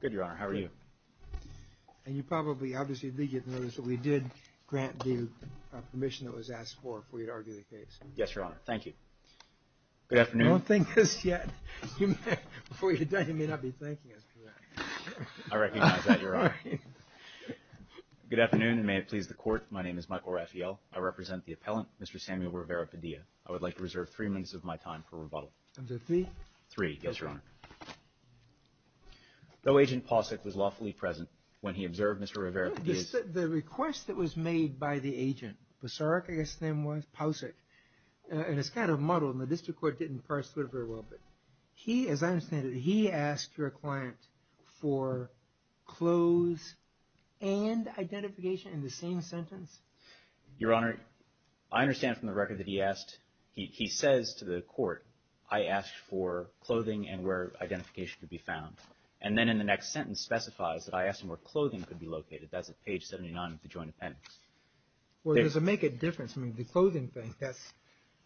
Good, Your Honor. How are you? And you probably, obviously, did get notice that we did grant the permission that was asked for for you to argue the case. Yes, Your Honor. Thank you. Good afternoon. Don't thank us yet. Before you're done, you may not be thanking us for that. I recognize that, Your Honor. Good afternoon, and may it please the Court. My name is Michael Raphael. I represent the appellant, Mr. Samuel Rivera-Padilla. I would like to reserve three minutes of my time for rebuttal. Is that three? Three, yes, Your Honor. Though Agent Pausick was lawfully present when he observed Mr. Rivera-Padilla's... The request that was made by the agent, Pasurik, I guess his name was, Pausick, and it's kind of muddled, and the district court didn't parse through it very well, but he, as I understand it, he asked your client for clothes and identification in the same sentence? Your Honor, I understand from the record that he asked, he says to the court, I asked for clothing and where identification could be found, and then in the next sentence specifies that I asked him where clothing could be located. That's at page 79 of the joint appendix. Well, does it make a difference? I mean, the clothing thing, that's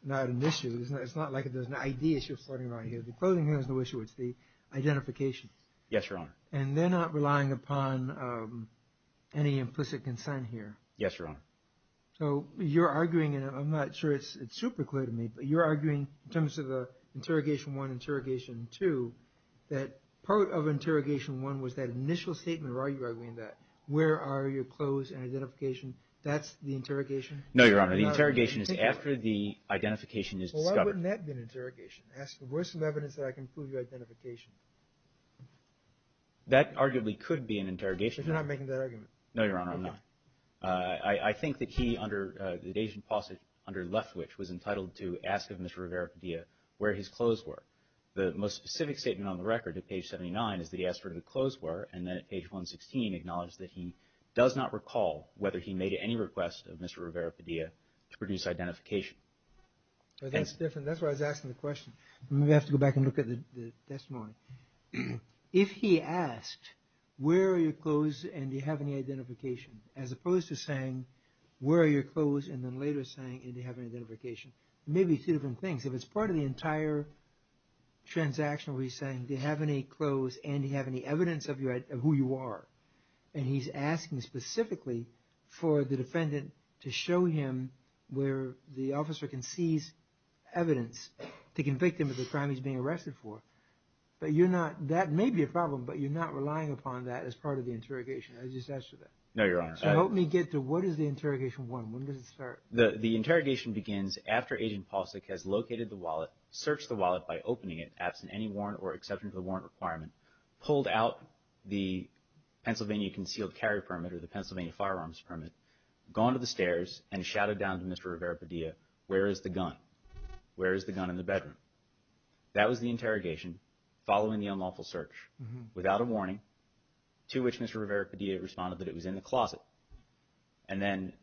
not an issue, isn't it? It's not like there's an ID issue floating around here. The clothing here is no issue. It's the identification. Yes, Your Honor. And they're not relying upon any implicit consent here? Yes, Your Honor. So you're arguing, and I'm not sure it's super clear to me, but you're arguing in terms of the interrogation one, interrogation two, that part of interrogation one was that initial statement, or are you arguing that, where are your clothes and identification? That's the interrogation? No, Your Honor. The interrogation is after the identification is discovered. Well, why wouldn't that be an interrogation? Ask the voice of evidence that I can prove your identification. That arguably could be an interrogation. So you're not making that argument? No, Your Honor, I'm not. I think that he, under the Dasein passage, under Leftwich, was entitled to ask of Mr. Rivera-Padilla where his clothes were. The most specific statement on the record, at page 79, is that he asked where the clothes were, and then at page 116, acknowledged that he does not recall whether he made any request of Mr. Rivera-Padilla to produce identification. That's different. That's why I was asking the question. We have to go back and look at the testimony. If he asked, where are your clothes and do you have any identification, as opposed to saying, where are your clothes, and then later saying, do you have any identification, it may be two different things. If it's part of the entire transaction where he's saying, do you have any clothes and do you have any evidence of who you are, and he's asking specifically for the defendant to show him where the officer can seize evidence to convict him of the crime he's being That may be a problem, but you're not relying upon that as part of the interrogation. I just asked you that. No, Your Honor. So help me get to what is the interrogation warrant? When does it start? The interrogation begins after Agent Palsak has located the wallet, searched the wallet by opening it, absent any warrant or exception to the warrant requirement, pulled out the Pennsylvania concealed carry permit, or the Pennsylvania firearms permit, gone to the stairs, and shouted down to Mr. Rivera-Padilla, where is the gun? Where is the gun in the bedroom? That was the interrogation following the unlawful search without a warning to which Mr. Rivera-Padilla responded that it was in the closet. And then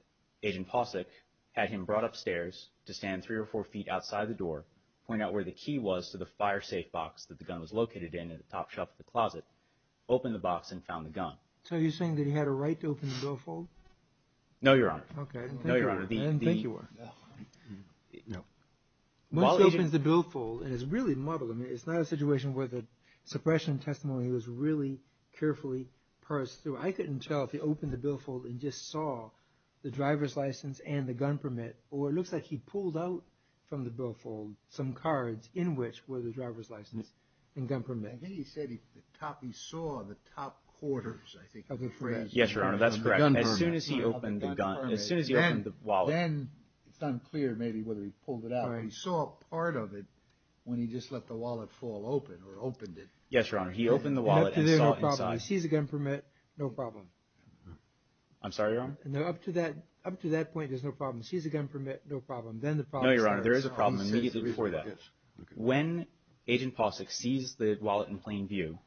Agent Palsak had him brought upstairs to stand three or four feet outside the door, point out where the key was to the fire safe box that the gun was located in, in the top shelf of the closet, opened the box and found the gun. So you're saying that he had a right to open the billfold? No, Your Honor. Okay. No, Your Honor. I didn't think you were. No. Once he opens the billfold, and it's really muddled, it's not a situation where the suppression testimony was really carefully parsed through. I couldn't tell if he opened the billfold and just saw the driver's license and the gun permit, or it looks like he pulled out from the billfold some cards in which were the driver's license and gun permit. I think he said he saw the top quarters, I think, of the phrase. Yes, Your Honor, that's correct. As soon as he opened the wallet. Then it's unclear maybe whether he pulled it out, but he saw a part of it when he just let the wallet fall open or opened it. Yes, Your Honor. He opened the wallet and saw inside. Up to there, no problem. He sees the gun permit, no problem. I'm sorry, Your Honor? Up to that point, there's no problem. He sees the gun permit, no problem. Then the problem starts. No, Your Honor, there is a problem immediately before that. When Agent Posick sees the wallet in plain view,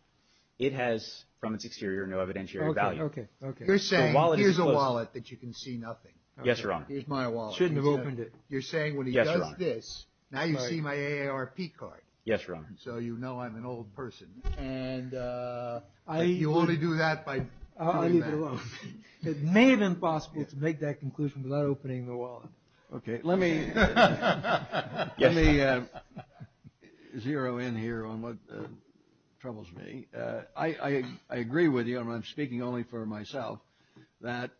it has, from its exterior, no evidentiary value. Okay, okay. You're saying, here's a wallet that you can see nothing. Yes, Your Honor. Here's my wallet. Shouldn't have opened it. You're saying when he does this, now you see my AARP card. Yes, Your Honor. So you know I'm an old person. You only do that by pointing that. I leave it alone. It may have been possible to make that conclusion without opening the wallet. Okay, let me zero in here on what troubles me. I agree with you, and I'm speaking only for myself, that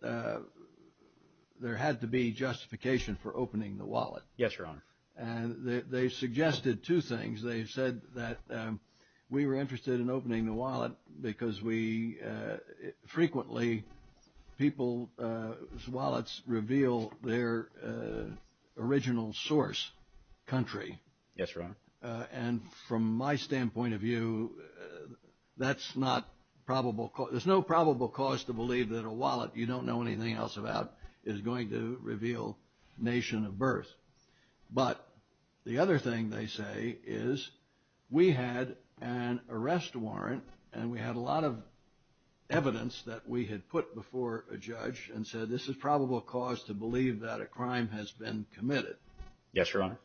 there had to be justification for opening the wallet. Yes, Your Honor. And they suggested two things. They said that we were interested in opening the wallet because we frequently, people's wallets reveal their original source, country. Yes, Your Honor. And from my standpoint of view, that's not probable. There's no probable cause to believe that a wallet you don't know anything else about is going to reveal nation of birth. But the other thing they say is we had an arrest warrant, and we had a lot of evidence that we had put before a judge and said this is probable cause to believe that a crime has been committed. Yes, Your Honor.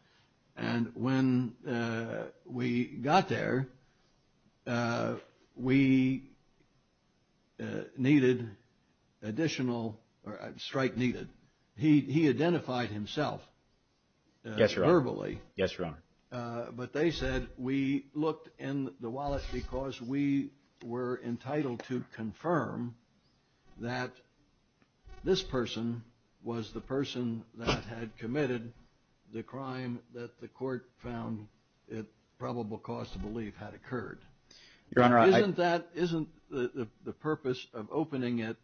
And when we got there, we needed additional strike needed. He identified himself verbally. Yes, Your Honor. But they said we looked in the wallet because we were entitled to confirm that this person was the person that had committed the crime that the court found probable cause to believe had occurred. Your Honor, I — Isn't that, isn't the purpose of opening it,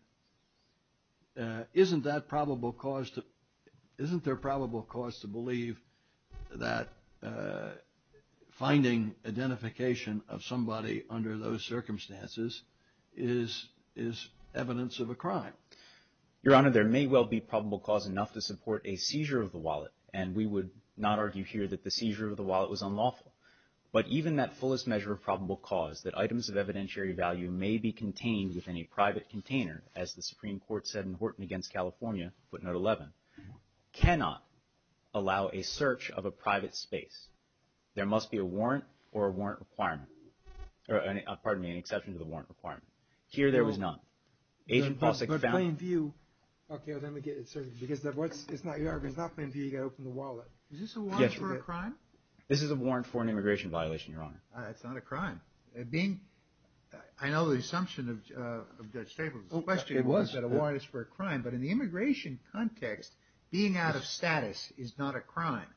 isn't that probable cause to, isn't there probable cause to believe that finding identification of somebody under those circumstances is evidence of a crime? Your Honor, there may well be probable cause enough to support a seizure of the wallet, and we would not argue here that the seizure of the wallet was unlawful. But even that fullest measure of probable cause, that items of evidentiary value may be contained within a private container, as the Supreme Court said in Horton v. California, footnote 11, cannot allow a search of a private space. There must be a warrant or a warrant requirement, pardon me, an exception to the warrant requirement. Here there was none. Agent Polsak found — But plain view, okay, let me get it, sir, because that's what's, it's not your argument, it's not plain view you got to open the wallet. Is this a warrant for a crime? This is a warrant for an immigration violation, Your Honor. It's not a crime. Being, I know the assumption of Judge Staples, the question was that a warrant is for a crime, but in the immigration context, being out of status is not a crime.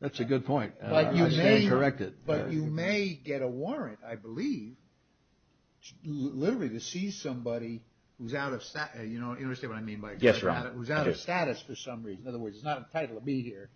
That's a good point. I stand corrected. But you may get a warrant, I believe, literally to seize somebody who's out of, you know, you understand what I mean by — Yes, Your Honor. Who's out of status for some reason. In other words, it's not entitled to be here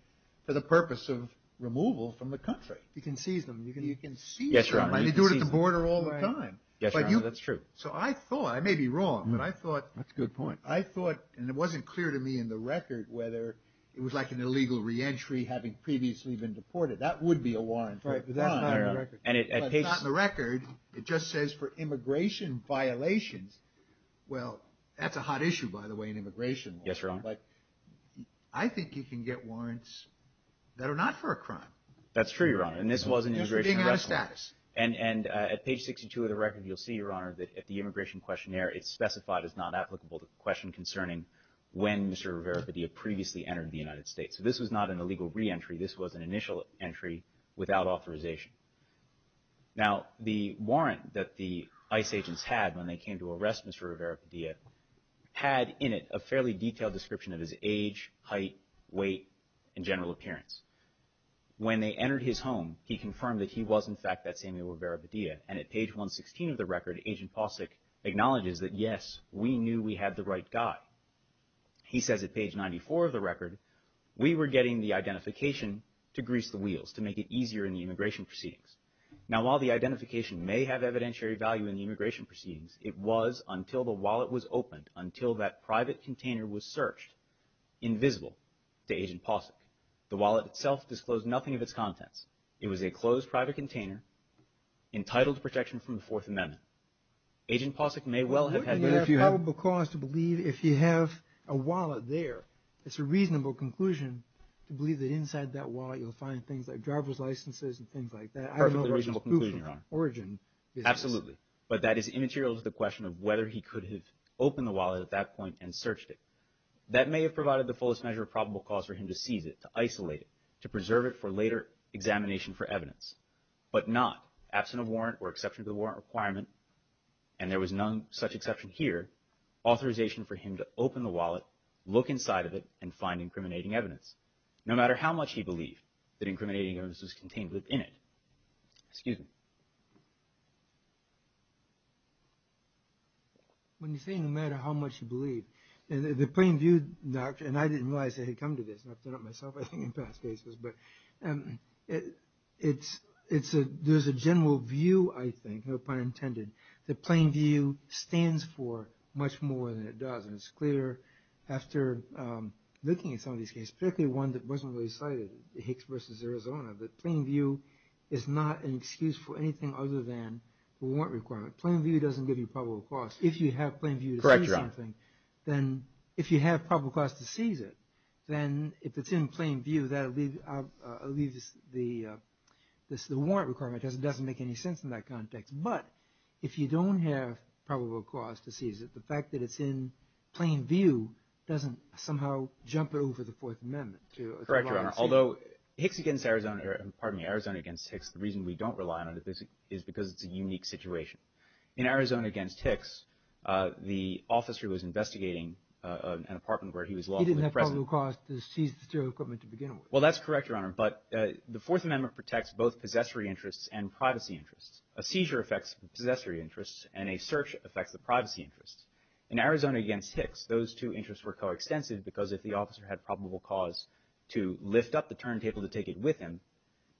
for the purpose of removal from the country. You can seize them. You can seize them. Yes, Your Honor. And you do it at the border all the time. Yes, Your Honor, that's true. So I thought, I may be wrong, but I thought — That's a good point. I thought, and it wasn't clear to me in the record, whether it was like an illegal reentry having previously been deported. That would be a warrant for a crime. Right, but that's not in the record. But it's not in the record. It just says for immigration violations. Well, that's a hot issue, by the way, in immigration law. Yes, Your Honor. Like, I think you can get warrants that are not for a crime. That's true, Your Honor. And this was an immigration arrest warrant. Just for being out of status. And at page 62 of the record, you'll see, Your Honor, that if the immigration questionnaire is specified as not applicable to the question concerning when Mr. Rivera Padilla previously entered the United States. So this was not an illegal reentry. This was an initial entry without authorization. Now, the warrant that the ICE agents had when they came to arrest Mr. Rivera Padilla had in it a fairly detailed description of his age, height, weight, and general appearance. When they entered his home, he confirmed that he was, in fact, that Samuel Rivera Padilla. And at page 116 of the record, Agent Pawsik acknowledges that, yes, we knew we had the right guy. He says at page 94 of the record, we were getting the identification to grease the wheels, to make it easier in the immigration proceedings. Now, while the identification may have evidentiary value in the immigration proceedings, it was until the wallet was opened, until that private container was searched, invisible to Agent Pawsik. The wallet itself disclosed nothing of its contents. It was a closed private container entitled to protection from the Fourth Amendment. Agent Pawsik may well have had— But wouldn't it be a probable cause to believe if you have a wallet there, it's a reasonable conclusion to believe that inside that wallet you'll find things like driver's licenses and things like that? I don't know where his proof of origin is. Absolutely. But that is immaterial to the question of whether he could have opened the wallet at that point and searched it. That may have provided the fullest measure of probable cause for him to seize it, to isolate it, to preserve it for later examination for evidence. But not, absent a warrant or exception to the warrant requirement, and there was none such exception here, authorization for him to open the wallet, look inside of it, and find incriminating evidence, no matter how much he believed that incriminating evidence was contained within it. Excuse me. When you're saying no matter how much you believe, the plain view, and I didn't realize I had come to this, and I've done it myself, I think, in past cases, but there's a general view, I think, no pun intended, that plain view stands for much more than it does. And it's clear after looking at some of these cases, particularly one that wasn't really cited, Hicks v. Arizona, that plain view is not an excuse for anything other than a warrant requirement. Plain view doesn't give you probable cause. If you have plain view to seize something, then if you have probable cause to seize it, then if it's in plain view, that leaves the warrant requirement, because it doesn't make any sense in that context. But if you don't have probable cause to seize it, the fact that it's in plain view doesn't somehow jump over the Fourth Amendment. Correct, Your Honor. Although Arizona v. Hicks, the reason we don't rely on it is because it's a unique situation. In Arizona v. Hicks, the officer who was investigating an apartment where he was lawfully present had probable cause to seize the serial equipment to begin with. Well, that's correct, Your Honor. But the Fourth Amendment protects both possessory interests and privacy interests. A seizure affects the possessory interests, and a search affects the privacy interests. In Arizona v. Hicks, those two interests were coextensive because if the officer had probable cause to lift up the turntable to take it with him,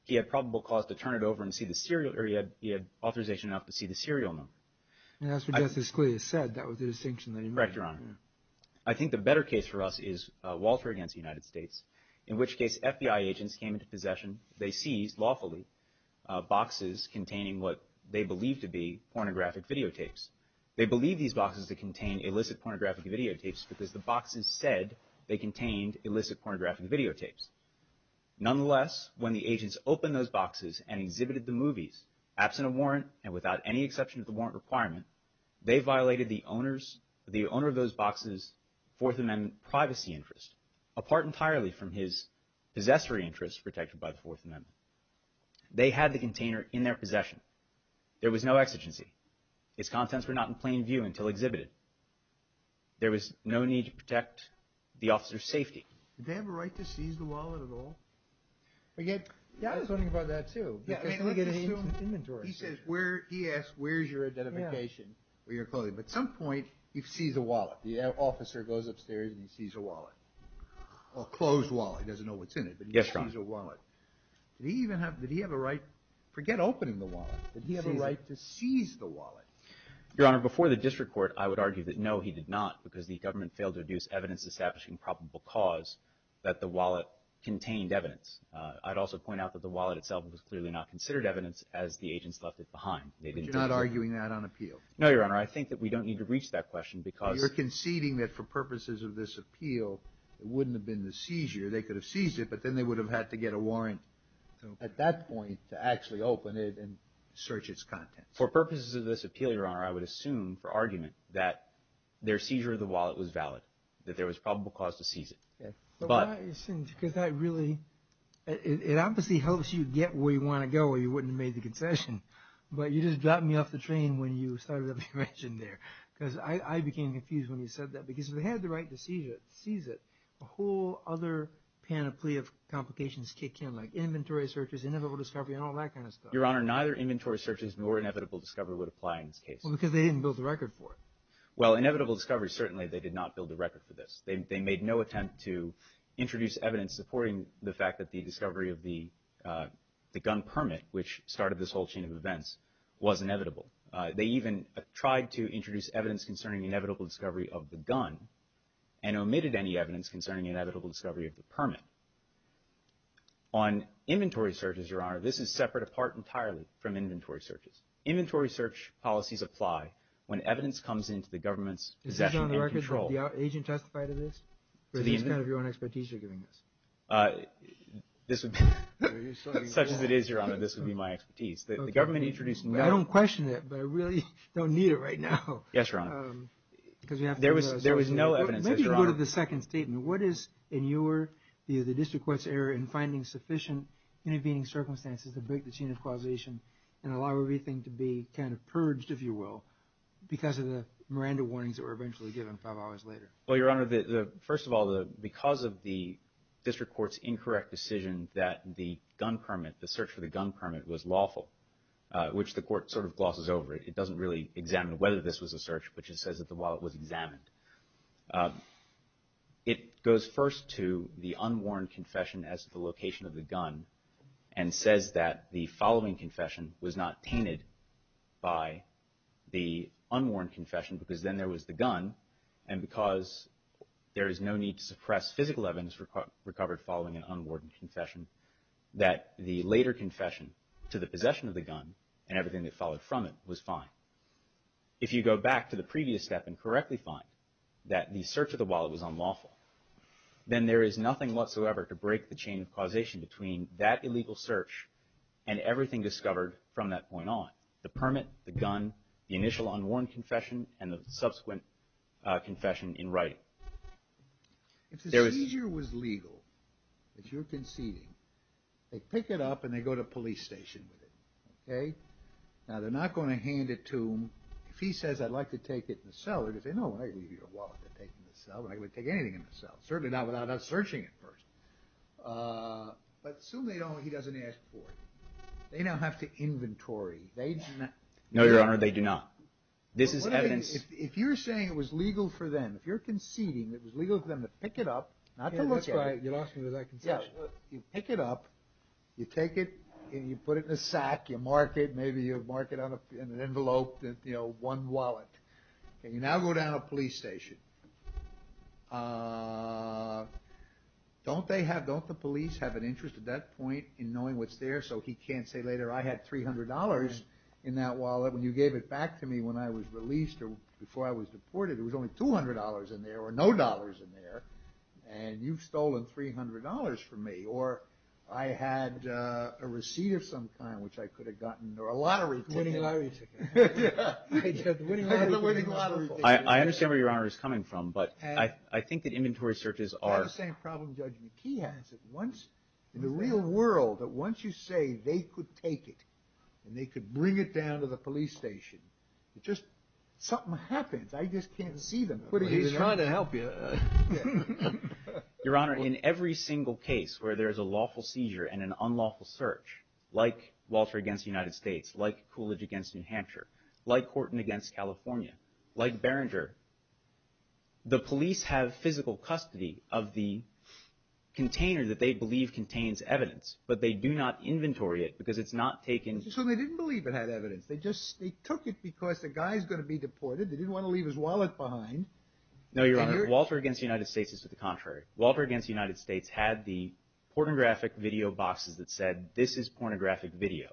he had probable cause to turn it over and see the serial, or he had authorization enough to see the serial number. And that's what Justice Scalia said. That was the distinction that he made. Correct, Your Honor. I think the better case for us is Walter v. United States, in which case FBI agents came into possession. They seized, lawfully, boxes containing what they believed to be pornographic videotapes. They believed these boxes to contain illicit pornographic videotapes because the boxes said they contained illicit pornographic videotapes. Nonetheless, when the agents opened those boxes and exhibited the movies, absent a warrant and without any exception to the warrant requirement, they violated the owner of those boxes' Fourth Amendment privacy interest, apart entirely from his possessory interests protected by the Fourth Amendment. They had the container in their possession. There was no exigency. Its contents were not in plain view until exhibited. There was no need to protect the officer's safety. Did they have a right to seize the wallet at all? I was wondering about that, too. He asks where is your identification or your clothing. At some point he sees a wallet. The officer goes upstairs and he sees a wallet, a closed wallet. He doesn't know what's in it, but he sees a wallet. Did he even have a right? Forget opening the wallet. Did he have a right to seize the wallet? Your Honor, before the district court, I would argue that, no, he did not, because the government failed to deduce evidence establishing probable cause that the wallet contained evidence. I'd also point out that the wallet itself was clearly not considered evidence as the agents left it behind. But you're not arguing that on appeal? No, Your Honor. I think that we don't need to reach that question because— You're conceding that for purposes of this appeal, it wouldn't have been the seizure. They could have seized it, but then they would have had to get a warrant at that point to actually open it and search its contents. For purposes of this appeal, Your Honor, I would assume for argument that their seizure of the wallet was valid, that there was probable cause to seize it. Because that really—it obviously helps you get where you want to go or you wouldn't have made the concession. But you just dropped me off the train when you started up the arrangement there. Because I became confused when you said that. Because if they had the right to seize it, a whole other panoply of complications kick in, like inventory searches, inevitable discovery, and all that kind of stuff. Your Honor, neither inventory searches nor inevitable discovery would apply in this case. Well, because they didn't build the record for it. Well, inevitable discovery, certainly they did not build the record for this. They made no attempt to introduce evidence supporting the fact that the discovery of the gun permit, which started this whole chain of events, was inevitable. They even tried to introduce evidence concerning inevitable discovery of the gun and omitted any evidence concerning inevitable discovery of the permit. On inventory searches, Your Honor, this is separate apart entirely from inventory searches. Inventory search policies apply when evidence comes into the government's possession and control. Did the agent testify to this? Or is this kind of your own expertise you're giving us? Such as it is, Your Honor, this would be my expertise. I don't question it, but I really don't need it right now. Yes, Your Honor. There was no evidence, Your Honor. Maybe go to the second statement. What is, in your view, the district court's error in finding sufficient intervening circumstances to break the chain of causation and allow everything to be kind of purged, if you will, because of the Miranda warnings that were eventually given five hours later? Well, Your Honor, first of all, because of the district court's incorrect decision that the gun permit, the search for the gun permit, was lawful, which the court sort of glosses over. It doesn't really examine whether this was a search, but just says that the wallet was examined. It goes first to the unworn confession as to the location of the gun and says that the following confession was not tainted by the unworn confession because then there was the gun, and because there is no need to suppress physical evidence recovered following an unworn confession, that the later confession to the possession of the gun and everything that followed from it was fine. If you go back to the previous step and correctly find that the search of the wallet was unlawful, then there is nothing whatsoever to break the chain of causation between that illegal search and everything discovered from that point on. The permit, the gun, the initial unworn confession, and the subsequent confession in writing. If the seizure was legal, if you're conceding, they pick it up and they go to a police station with it, okay? Now, they're not going to hand it to him. If he says, I'd like to take it in the cellar, they say, no, we're not going to give you your wallet to take in the cell. We're not going to take anything in the cell. Certainly not without us searching it first. But assume they don't, he doesn't ask for it. They now have to inventory. No, Your Honor, they do not. This is evidence. If you're saying it was legal for them, if you're conceding it was legal for them to pick it up, not to look at it. Yeah, that's right. You lost me with that concession. You pick it up, you take it, and you put it in a sack, you mark it, maybe you mark it in an envelope that, you know, one wallet. Okay, you now go down to a police station. Don't they have, don't the police have an interest at that point in knowing what's there so he can't say later, I had $300 in that wallet when you gave it back to me when I was released or before I was deported. There was only $200 in there or no dollars in there. And you've stolen $300 from me. Or I had a receipt of some kind which I could have gotten or a lottery ticket. I had the winning lottery ticket. I had the winning lottery ticket. I understand where Your Honor is coming from, but I think that inventory searches are You have the same problem, Judge McKee has, that once, in the real world, that once you say they could take it and they could bring it down to the police station, it just, something happens. I just can't see them. He's trying to help you. Your Honor, in every single case where there's a lawful seizure and an unlawful search, like Walter against the United States, like Coolidge against New Hampshire, like Horton against California, like Beringer, the police have physical custody of the container that they believe contains evidence, but they do not inventory it because it's not taken. So they didn't believe it had evidence. They just, they took it because the guy's going to be deported. They didn't want to leave his wallet behind. No, Your Honor, Walter against the United States is to the contrary. Walter against the United States had the pornographic video boxes that said, this is pornographic video.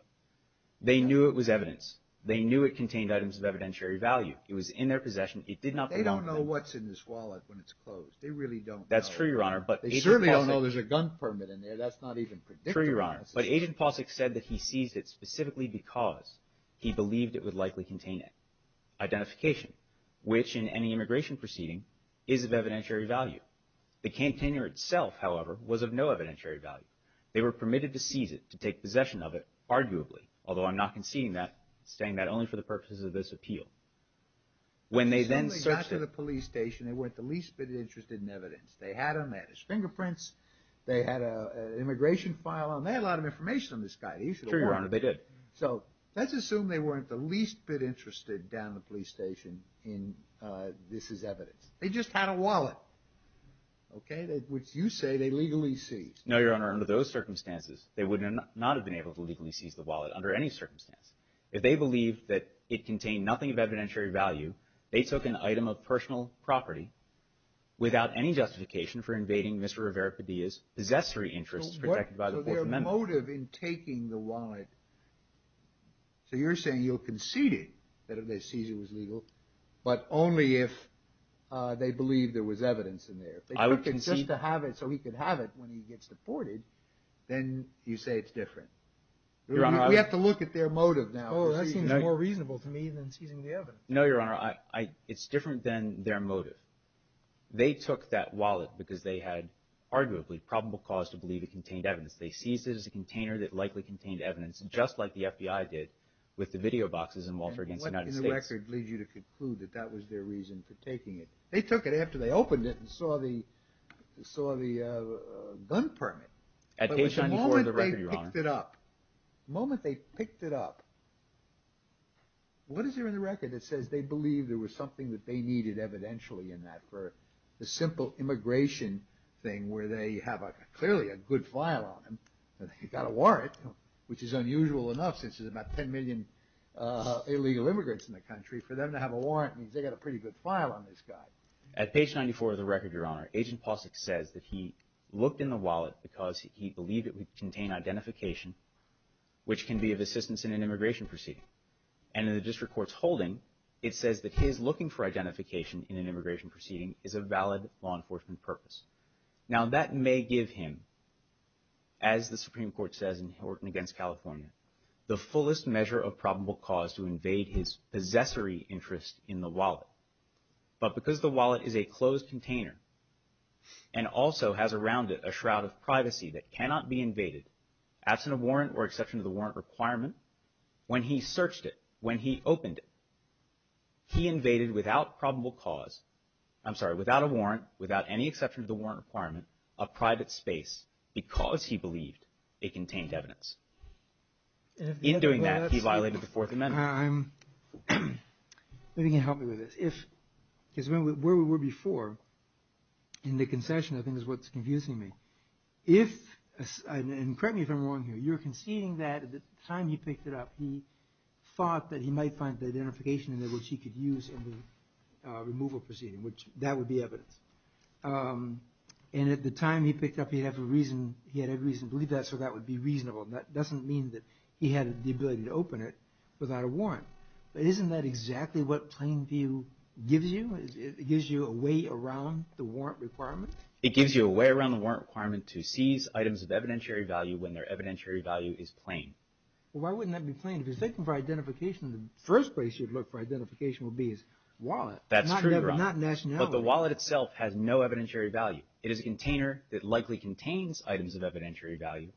They knew it was evidence. They knew it contained items of evidentiary value. It was in their possession. It did not belong to them. They don't know what's in this wallet when it's closed. They really don't know. That's true, Your Honor. They certainly don't know there's a gun permit in there. That's not even predictable. True, Your Honor. But Agent Posick said that he seized it specifically because he believed it would likely contain it. Identification, which in any immigration proceeding is of evidentiary value. The container itself, however, was of no evidentiary value. They were permitted to seize it, to take possession of it, arguably, although I'm not conceding that, saying that only for the purposes of this appeal. When they then searched it. They certainly got to the police station. They weren't the least bit interested in evidence. They had him. They had his fingerprints. They had an immigration file on him. They had a lot of information on this guy. They should have warned him. True, Your Honor, they did. So let's assume they weren't the least bit interested down at the police station in this is evidence. They just had a wallet, okay, which you say they legally seized. No, Your Honor. Under those circumstances, they would not have been able to legally seize the wallet under any circumstance. If they believed that it contained nothing of evidentiary value, they took an item of personal property without any justification for invading Mr. Rivera Padilla's possessory interests protected by the Fourth Amendment. So their motive in taking the wallet. So you're saying you'll concede it, that if they seize it was legal, but only if they believe there was evidence in there. I would concede. If they took it just to have it so he could have it when he gets deported, then you say it's different. Your Honor, I would. We have to look at their motive now. Oh, that seems more reasonable to me than seizing the evidence. No, Your Honor. It's different than their motive. They took that wallet because they had arguably probable cause to believe it contained evidence. They seized it as a container that likely contained evidence, just like the FBI did with the video boxes in Walter against the United States. And what in the record leads you to conclude that that was their reason for taking it? They took it after they opened it and saw the gun permit. At page 94 of the record, Your Honor. But the moment they picked it up, the moment they picked it up, what is there in the record that says they believe there was something that they needed evidentially in that? For the simple immigration thing where they have clearly a good file on them. They got a warrant, which is unusual enough since there's about 10 million illegal immigrants in the country. For them to have a warrant means they got a pretty good file on this guy. At page 94 of the record, Your Honor, Agent Polsek says that he looked in the wallet because he believed it would contain identification, which can be of assistance in an immigration proceeding. And in the district court's holding, it says that he is looking for identification in an immigration proceeding is a valid law enforcement purpose. Now, that may give him, as the Supreme Court says in Horton against California, the fullest measure of probable cause to invade his possessory interest in the wallet. But because the wallet is a closed container and also has around it a shroud of privacy that cannot be invaded, absent a warrant or exception to the warrant requirement, when he searched it, when he opened it, he invaded without probable cause, I'm sorry, without a warrant, without any exception to the warrant requirement, a private space because he believed it contained evidence. In doing that, he violated the Fourth Amendment. If you can help me with this. Because where we were before in the concession, I think is what's confusing me. And correct me if I'm wrong here. You're conceding that at the time he picked it up, he thought that he might find the identification in it which he could use in the removal proceeding, which that would be evidence. And at the time he picked it up, he had reason to believe that, so that would be reasonable. That doesn't mean that he had the ability to open it without a warrant. But isn't that exactly what plain view gives you? It gives you a way around the warrant requirement? It gives you a way around the warrant requirement to seize items of evidentiary value when their evidentiary value is plain. Well, why wouldn't that be plain? If you're seeking for identification, the first place you'd look for identification would be his wallet. That's true, Ron. Not nationality. But the wallet itself has no evidentiary value. It is a container that likely contains items of evidentiary value,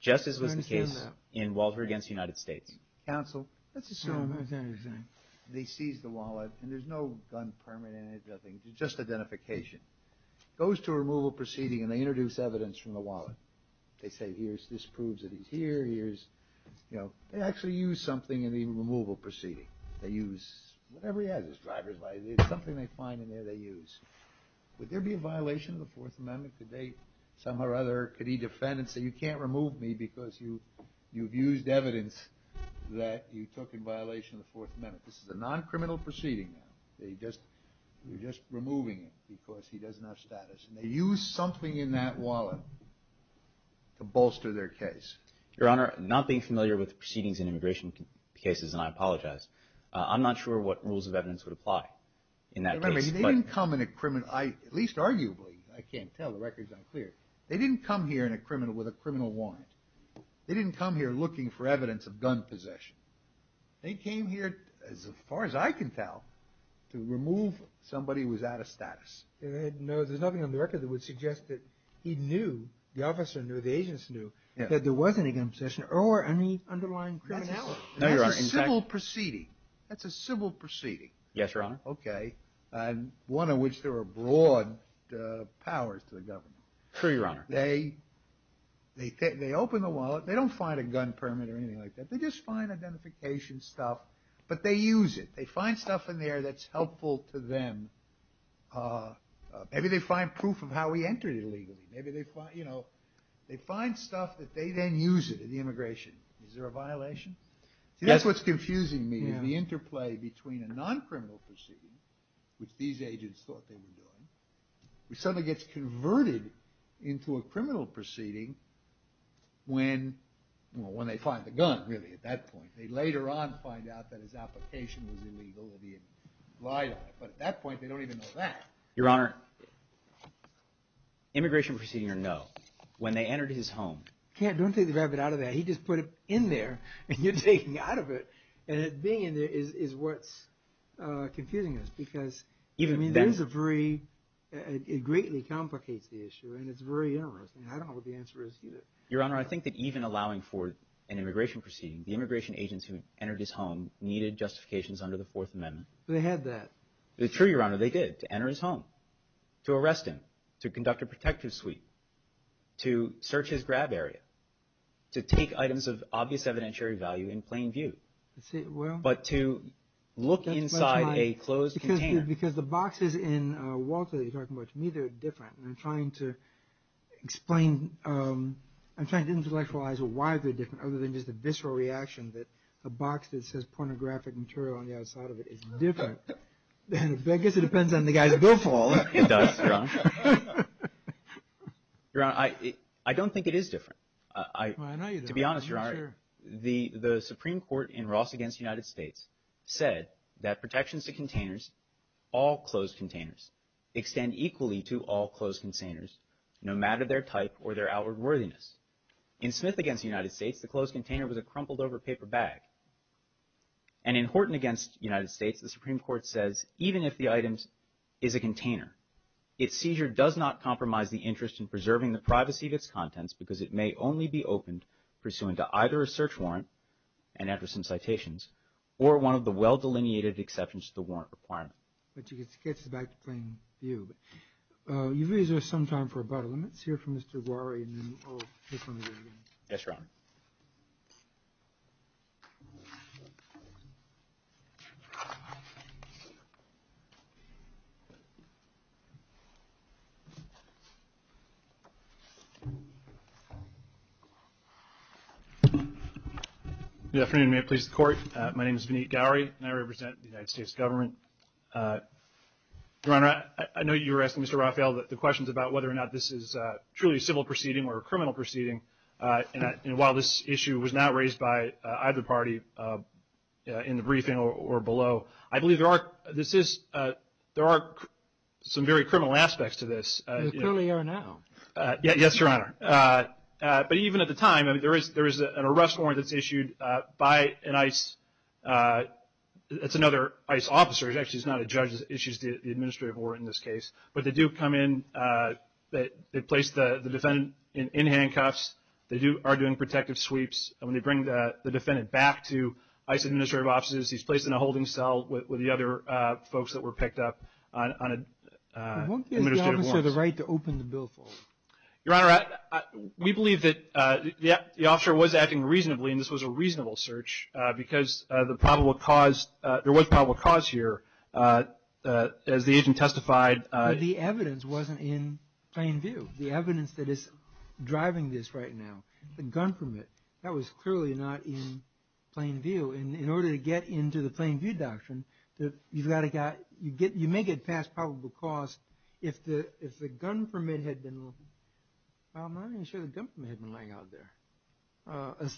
just as was the case in Walter against the United States. Counsel, let's assume they seized the wallet and there's no gun permit in it, nothing, just identification. Goes to a removal proceeding and they introduce evidence from the wallet. They say, here's, this proves that he's here, here's, you know. They actually use something in the removal proceeding. They use whatever he has as driver's license. It's something they find in there they use. Would there be a violation of the Fourth Amendment? Could they somehow or other, could he defend and say, you can't remove me because you've used evidence that you took in violation of the Fourth Amendment? This is a non-criminal proceeding now. They're just removing him because he doesn't have status. And they use something in that wallet to bolster their case. Your Honor, not being familiar with proceedings in immigration cases, and I apologize, I'm not sure what rules of evidence would apply in that case. Remember, they didn't come in a criminal, at least arguably, I can't tell, the record's unclear. They didn't come here in a criminal with a criminal warrant. They didn't come here looking for evidence of gun possession. They came here, as far as I can tell, to remove somebody who was out of status. No, there's nothing on the record that would suggest that he knew, the officer knew, the agents knew, that there wasn't any gun possession or any underlying criminality. No, Your Honor. That's a civil proceeding. That's a civil proceeding. Yes, Your Honor. Okay. And one in which there were broad powers to the government. True, Your Honor. They open the wallet. They don't find a gun permit or anything like that. They just find identification stuff, but they use it. They find stuff in there that's helpful to them. Maybe they find proof of how he entered illegally. Maybe they find, you know, they find stuff that they then use it in the immigration. Is there a violation? See, that's what's confusing me is the interplay between a non-criminal proceeding, which these agents thought they were doing, suddenly gets converted into a criminal proceeding when they find the gun, really, at that point. They later on find out that his application was illegal and he had lied on it. But at that point, they don't even know that. Your Honor, immigration proceeding or no, when they entered his home. Don't think they grabbed it out of there. He just put it in there, and you're taking out of it, and it being in there is what's confusing us. It greatly complicates the issue, and it's very interesting. I don't know what the answer is either. Your Honor, I think that even allowing for an immigration proceeding, the immigration agents who entered his home needed justifications under the Fourth Amendment. They had that. It's true, Your Honor. They did, to enter his home, to arrest him, to conduct a protective suite, to search his grab area, to take items of obvious evidentiary value in plain view, but to look inside a closed container. Because the boxes in Walter that you're talking about, to me, they're different. I'm trying to explain. I'm trying to intellectualize why they're different other than just a visceral reaction that a box that says pornographic material on the outside of it is different. I guess it depends on the guy's billfold. It does, Your Honor. Your Honor, I don't think it is different. I know you don't. Your Honor, the Supreme Court in Ross v. United States said that protections to containers, all closed containers, extend equally to all closed containers, no matter their type or their outward worthiness. In Smith v. United States, the closed container was a crumpled over paper bag. And in Horton v. United States, the Supreme Court says even if the item is a container, its seizure does not compromise the interest in preserving the privacy of its contents because it may only be opened pursuant to either a search warrant, an address in citations, or one of the well-delineated exceptions to the warrant requirement. But you can sketch this back to plain view. You've used this some time for about a minute. Let's hear from Mr. Aguari and then I'll just let him go again. Yes, Your Honor. Good afternoon. May it please the Court. My name is Vineet Aguari and I represent the United States Government. Your Honor, I know you were asking Mr. Raphael the questions about whether or not this is truly a civil proceeding or a criminal proceeding. And while this issue was not raised by either party in the briefing or below, I believe there are some very criminal aspects to this. Clearly, Your Honor. Yes, Your Honor. But even at the time, there is an arrest warrant that's issued by an ICE. It's another ICE officer. Actually, it's not a judge that issues the administrative warrant in this case. But they do come in. They place the defendant in handcuffs. They are doing protective sweeps. When they bring the defendant back to ICE administrative offices, he's placed in a holding cell with the other folks that were picked up on administrative warrants. But won't the officer have the right to open the bill for them? Your Honor, we believe that the officer was acting reasonably, and this was a reasonable search because there was probable cause here, as the agent testified. But the evidence wasn't in plain view. The evidence that is driving this right now, the gun permit, that was clearly not in plain view. In order to get into the plain view doctrine, you may get past probable cause if the gun permit had been lying out there.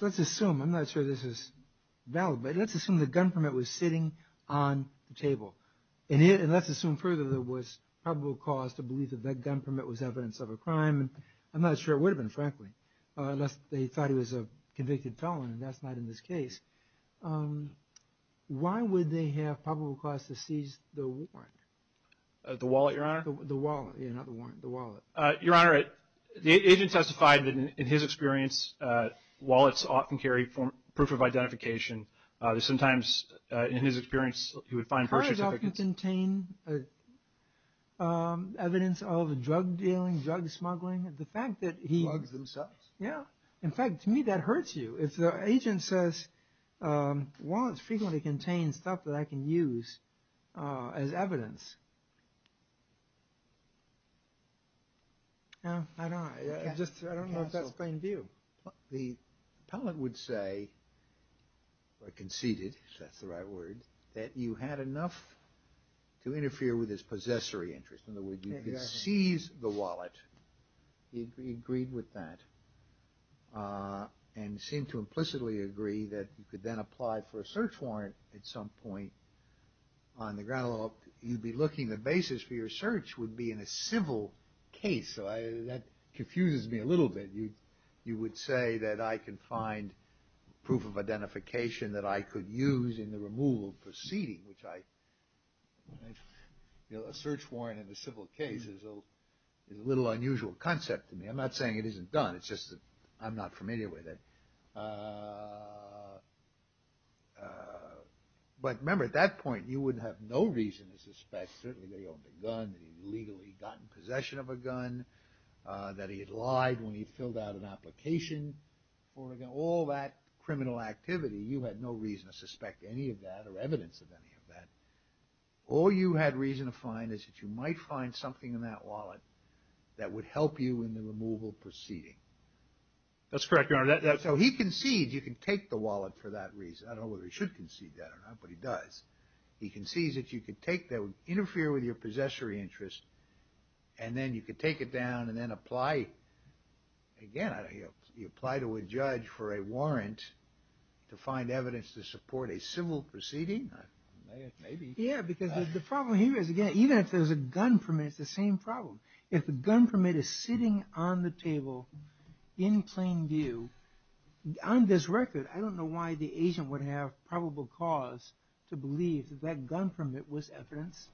Let's assume, I'm not sure this is valid, but let's assume the gun permit was sitting on the table. Let's assume further there was probable cause to believe that that gun permit was evidence of a crime. I'm not sure it would have been, frankly, unless they thought he was a convicted felon, and that's not in this case. Why would they have probable cause to seize the warrant? The wallet, Your Honor? The wallet, yeah, not the warrant, the wallet. Your Honor, the agent testified that in his experience, wallets often carry proof of identification. Sometimes, in his experience, he would find birth certificates. Wallets contain evidence of drug dealing, drug smuggling. The fact that he- Drugs themselves. Yeah. In fact, to me, that hurts you. If the agent says, wallets frequently contain stuff that I can use as evidence. I don't know if that's plain view. The appellant would say, or conceded, if that's the right word, that you had enough to interfere with his possessory interest. In other words, you could seize the wallet. He agreed with that. And seemed to implicitly agree that you could then apply for a search warrant at some point. On the ground law, you'd be looking, the basis for your search would be in a civil case. That confuses me a little bit. You would say that I can find proof of identification that I could use in the removal proceeding, which I- A search warrant in a civil case is a little unusual concept to me. I'm not saying it isn't done. It's just that I'm not familiar with it. But remember, at that point, you would have no reason to suspect, certainly that he owned a gun, that he legally got in possession of a gun, that he had lied when he filled out an application. All that criminal activity, you had no reason to suspect any of that, or evidence of any of that. All you had reason to find is that you might find something in that wallet that would help you in the removal proceeding. That's correct, Your Honor. So he conceded, you can take the wallet for that reason. I don't know whether he should concede that or not, but he does. He concedes that you could take that, it would interfere with your possessory interest, and then you could take it down and then apply, again, you apply to a judge for a warrant to find evidence to support a civil proceeding? Maybe. Yeah, because the problem here is, again, even if there's a gun permit, it's the same problem. If the gun permit is sitting on the table in plain view, on this record, I don't know why the agent would have probable cause to believe that that gun permit was evidence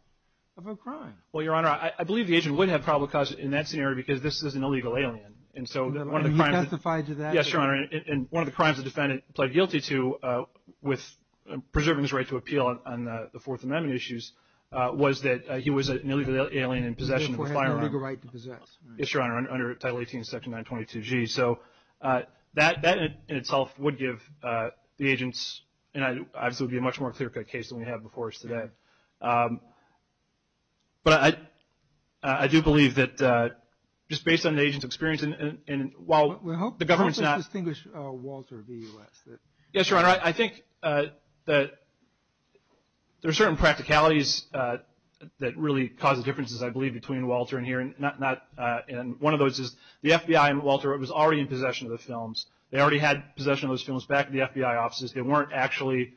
of a crime. Well, Your Honor, I believe the agent would have probable cause in that scenario because this is an illegal alien. He testified to that? Yes, Your Honor, and one of the crimes the defendant pled guilty to with preserving his right to appeal on the Fourth Amendment issues was that he was an illegal alien in possession of a firearm. Before having a legal right to possess. Yes, Your Honor, under Title 18, Section 922G. So that in itself would give the agents, and obviously it would be a much more clear-cut case than we have before us today. But I do believe that just based on the agent's experience, and while the government's not – How would you distinguish Walter v. U.S.? Yes, Your Honor, I think that there are certain practicalities that really cause the differences, I believe, between Walter and here, and one of those is the FBI and Walter was already in possession of the films. They already had possession of those films back at the FBI offices. They weren't actually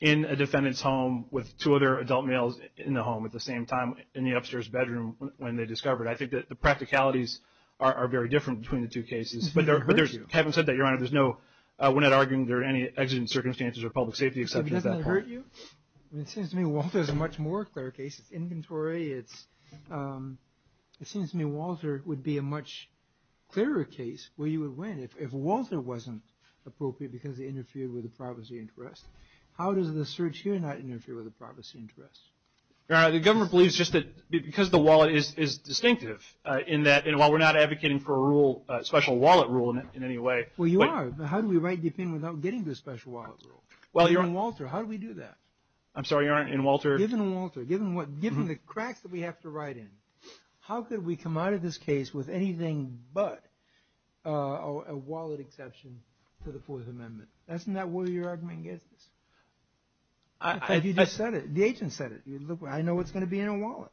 in a defendant's home with two other adult males in the home at the same time in the upstairs bedroom when they discovered. I think that the practicalities are very different between the two cases. But there's – having said that, Your Honor, there's no – we're not arguing there are any exigent circumstances or public safety exceptions at that point. Doesn't that hurt you? It seems to me Walter is a much more clear case. It's inventory, it's – it seems to me Walter would be a much clearer case where you would win. If Walter wasn't appropriate because he interfered with the privacy interest, how does the search here not interfere with the privacy interest? Your Honor, the government believes just that because the wallet is distinctive in that while we're not advocating for a rule – a special wallet rule in any way – Well, you are. How do we write the opinion without getting the special wallet rule? Given Walter, how do we do that? I'm sorry, Your Honor, in Walter – Given Walter, given the cracks that we have to write in, how could we come out of this case with anything but a wallet exception to the Fourth Amendment? Isn't that where your argument gets us? You just said it. The agent said it. I know what's going to be in a wallet.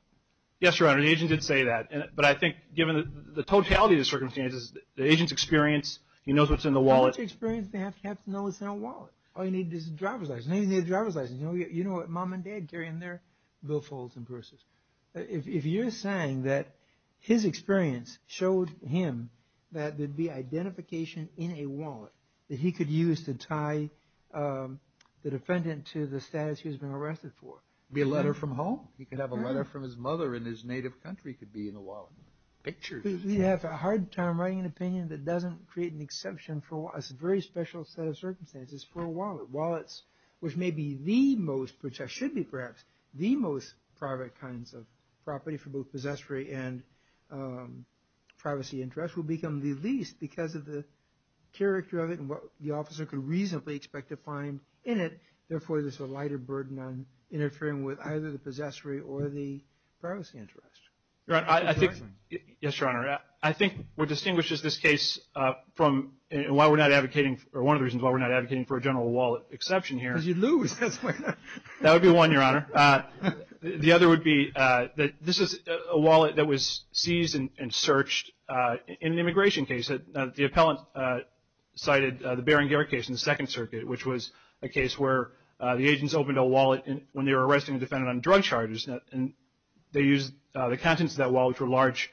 Yes, Your Honor, the agent did say that. But I think given the totality of the circumstances, the agent's experience, he knows what's in the wallet. How much experience do they have to know what's in a wallet? All you need is a driver's license. You know what mom and dad carry in their billfolds and purses. If you're saying that his experience showed him that there'd be identification in a wallet that he could use to tie the defendant to the status he's been arrested for. It could be a letter from home. He could have a letter from his mother in his native country could be in a wallet. Pictures. We have a hard time writing an opinion that doesn't create an exception for a very special set of circumstances for a wallet. Wallets, which may be the most – which should be, perhaps, the most private kinds of property for both possessory and privacy interest will become the least because of the character of it and what the officer could reasonably expect to find in it. Therefore, there's a lighter burden on interfering with either the possessory or the privacy interest. Your Honor, I think – yes, Your Honor. I think what distinguishes this case from – and why we're not advocating – or one of the reasons why we're not advocating for a general wallet exception here. Because you'd lose. That would be one, Your Honor. The other would be that this is a wallet that was seized and searched in an immigration case. The appellant cited the Baring Garrett case in the Second Circuit, which was a case where the agents opened a wallet when they were arresting a defendant on drug charges, and they used the contents of that wallet for large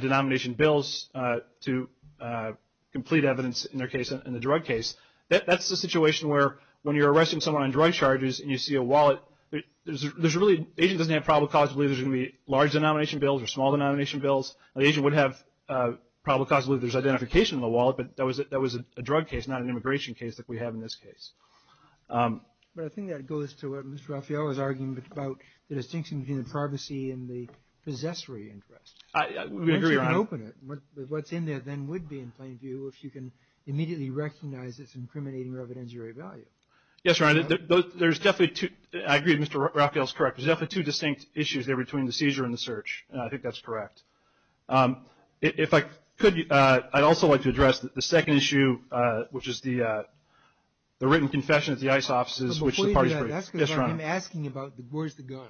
denomination bills to complete evidence in their case in the drug case. That's the situation where when you're arresting someone on drug charges and you see a wallet, there's really – the agent doesn't have probable cause to believe there's going to be large denomination bills or small denomination bills. The agent would have probable cause to believe there's identification in the wallet, but that was a drug case, not an immigration case like we have in this case. But I think that goes to what Mr. Raffaello was arguing about the distinction between the privacy and the possessory interest. I agree, Your Honor. Once you can open it, what's in there then would be, in plain view, if you can immediately recognize it's incriminating or of injury value. Yes, Your Honor. There's definitely two – I agree Mr. Raffaello's correct. There's definitely two distinct issues there between the seizure and the search, and I think that's correct. If I could, I'd also like to address the second issue, which is the written confession at the ICE offices, which the parties – Before you do that, that's because I'm asking about where's the gun,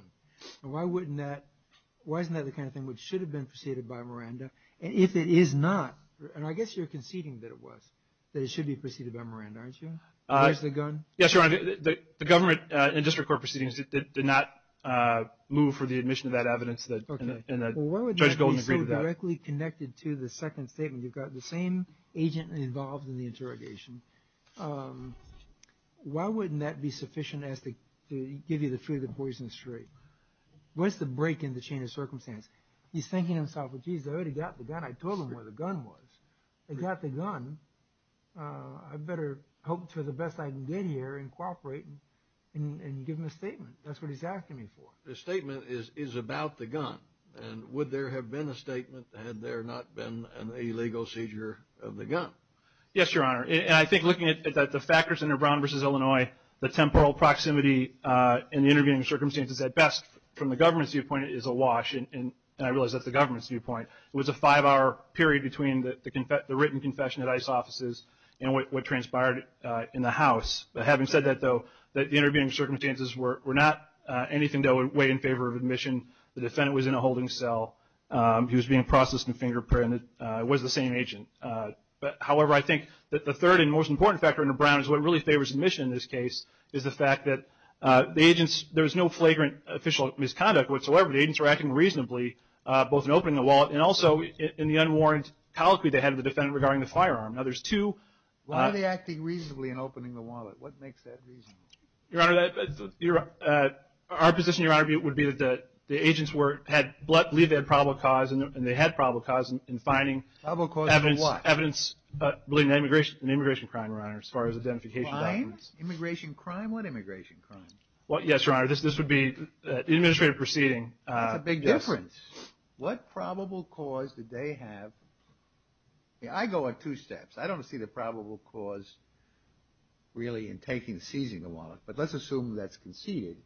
and why isn't that the kind of thing which should have been preceded by Miranda? And if it is not, and I guess you're conceding that it was, that it should be preceded by Miranda, aren't you? Where's the gun? Yes, Your Honor, the government and district court proceedings did not move for the admission of that evidence, and Judge Golden agreed to that. Why would that be so directly connected to the second statement? You've got the same agent involved in the interrogation. Why wouldn't that be sufficient to give you the fear of the poisonous tree? Where's the break in the chain of circumstance? He's thinking to himself, well, geez, I already got the gun. I told him where the gun was. I got the gun. I better hope for the best I can get here and cooperate and give him a statement. That's what he's asking me for. The statement is about the gun, and would there have been a statement had there not been an illegal seizure of the gun? Yes, Your Honor, and I think looking at the factors in Brown v. Illinois, the temporal proximity in the intervening circumstances at best from the government's viewpoint is awash, and I realize that's the government's viewpoint. It was a five-hour period between the written confession at ICE offices and what transpired in the House. Having said that, though, the intervening circumstances were not anything that would weigh in favor of admission. The defendant was in a holding cell. He was being processed and fingerprinted. It was the same agent. However, I think that the third and most important factor under Brown is what really favors admission in this case is the fact that there was no flagrant official misconduct whatsoever. The agents were acting reasonably both in opening the wallet and also in the unwarranted colloquy they had of the defendant regarding the firearm. Now, there's two. Why were they acting reasonably in opening the wallet? What makes that reasonable? Your Honor, our position, Your Honor, would be that the agents believed they had probable cause, and they had probable cause in finding evidence. Probable cause of what? Evidence of an immigration crime, Your Honor, as far as identification documents. Crime? Immigration crime? What immigration crime? Yes, Your Honor. This would be the administrative proceeding. That's a big difference. What probable cause did they have? I mean, I go on two steps. I don't see the probable cause really in taking and seizing the wallet. But let's assume that's conceded.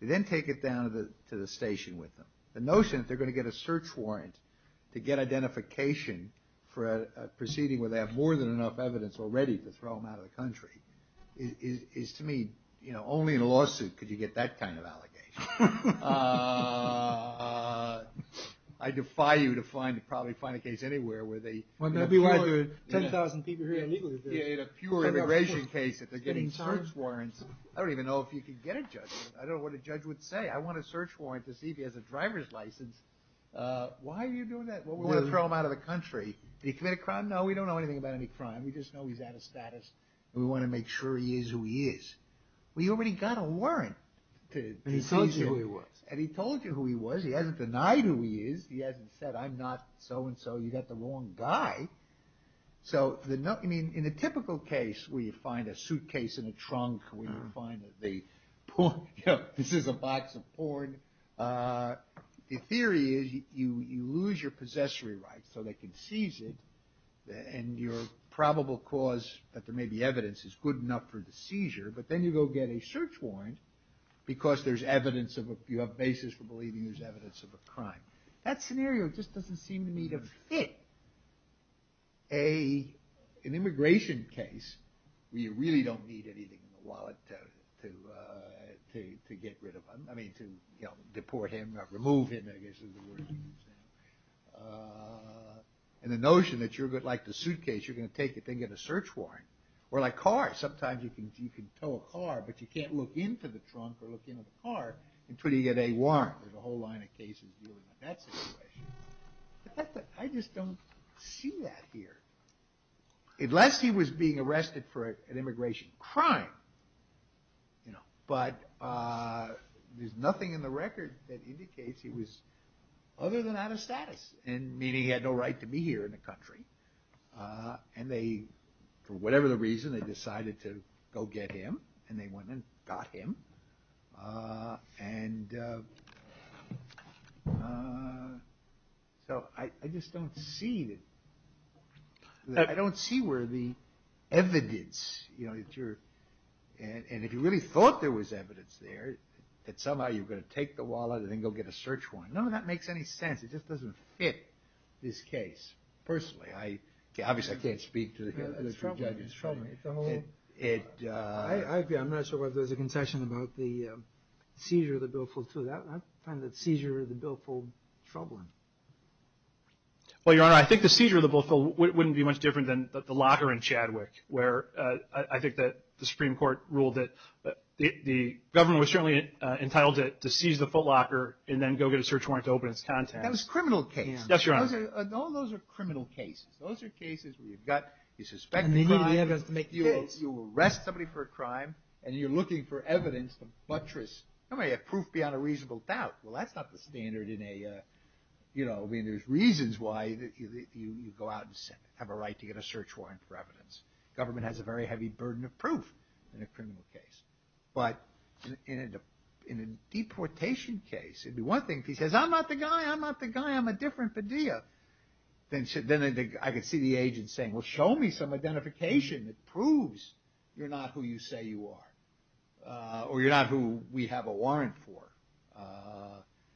They then take it down to the station with them. The notion that they're going to get a search warrant to get identification for a proceeding where they have more than enough evidence already to throw them out of the country is, to me, you know, only in a lawsuit could you get that kind of allegation. I defy you to find, to probably find a case anywhere where they. Well, that'd be like 10,000 people here illegally. Yeah, in a pure immigration case that they're getting search warrants. I don't even know if you could get a judge. I don't know what a judge would say. I want a search warrant to see if he has a driver's license. Why are you doing that? We're going to throw him out of the country. Did he commit a crime? No, we don't know anything about any crime. We just know he's out of status. We want to make sure he is who he is. We already got a warrant to seize him. And he told you who he was. And he told you who he was. He hasn't denied who he is. He hasn't said, I'm not so and so. You got the wrong guy. So, I mean, in a typical case where you find a suitcase in a trunk, where you find that they, you know, this is a box of porn, the theory is you lose your probable cause that there may be evidence is good enough for the seizure. But then you go get a search warrant because there's evidence of, you have basis for believing there's evidence of a crime. That scenario just doesn't seem to me to fit an immigration case where you really don't need anything in the wallet to get rid of him. I mean, to, you know, deport him or remove him, I guess is the word you use. And the notion that you're going to, like the suitcase, you're going to take it, then get a search warrant. Or like cars, sometimes you can tow a car, but you can't look into the trunk or look into the car until you get a warrant. There's a whole line of cases dealing with that situation. I just don't see that here. Unless he was being arrested for an immigration crime, you know, but there's nothing in the record that indicates he was other than out of status and meaning he had no right to be here in the country. And they, for whatever the reason, they decided to go get him. And they went and got him. And so I just don't see that, I don't see where the evidence, you know, that you're, and if you really thought there was evidence there, that somehow you're going to take the wallet and then go get a search warrant. None of that makes any sense. It just doesn't fit this case. Personally, obviously I can't speak to the three judges. It's troubling, it's troubling. I'm not sure whether there's a concession about the seizure of the billfold, too. I find the seizure of the billfold troubling. Well, Your Honor, I think the seizure of the billfold wouldn't be much different than the locker in Chadwick, where I think that the Supreme Court ruled that the government was certainly entitled to seize the footlocker and then go get a search warrant to open its contents. That was a criminal case. Yes, Your Honor. All those are criminal cases. Those are cases where you've got, you suspect a crime, you arrest somebody for a crime, and you're looking for evidence to buttress. Nobody had proof beyond a reasonable doubt. Well, that's not the standard in a, you know, I mean, there's reasons why you go out and have a right to get a search warrant for evidence. Government has a very heavy burden of proof in a criminal case. But in a deportation case, it'd be one thing if he says, I'm not the guy, I'm not the guy, I'm a different Padilla. Then I could see the agent saying, well, show me some identification that proves you're not who you say you are. Or you're not who we have a warrant for.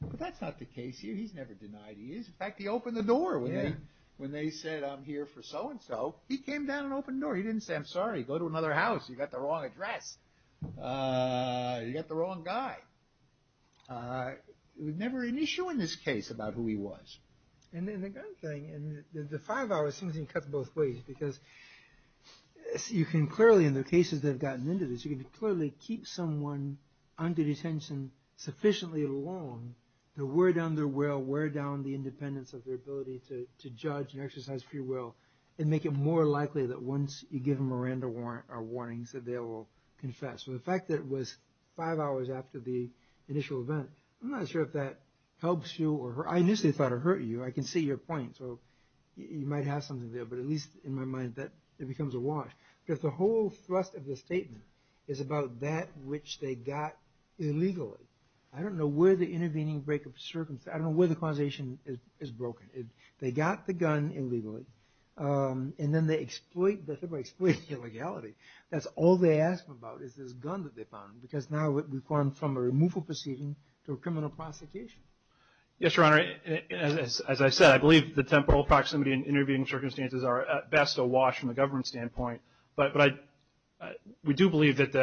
But that's not the case here. He's never denied he is. In fact, he opened the door when they said, I'm here for so and so. He came down and opened the door. He didn't say, I'm sorry, go to another house. You got the wrong address. You got the wrong guy. It was never an issue in this case about who he was. And the other thing, the five hours seems to cut both ways. Because you can clearly, in the cases that have gotten into this, you can clearly keep someone under detention sufficiently long to wear down their will, wear down the independence of their ability to judge and exercise free will, and make it more likely that once you give them a Miranda warrant or warnings that they will confess. So the fact that it was five hours after the initial event, I'm not sure if that helps you. I initially thought it hurt you. I can see your point. So you might have something there. But at least in my mind, it becomes a wash. Because the whole thrust of the statement is about that which they got illegally. I don't know where the intervening break of circumstance, I don't know where the causation is broken. They got the gun illegally. And then they exploit illegality. That's all they ask about is this gun that they found. Because now we've gone from a removal proceeding to a criminal prosecution. Yes, Your Honor, as I said, I believe the temporal proximity and intervening circumstances are at best a wash from a government standpoint. But we do believe that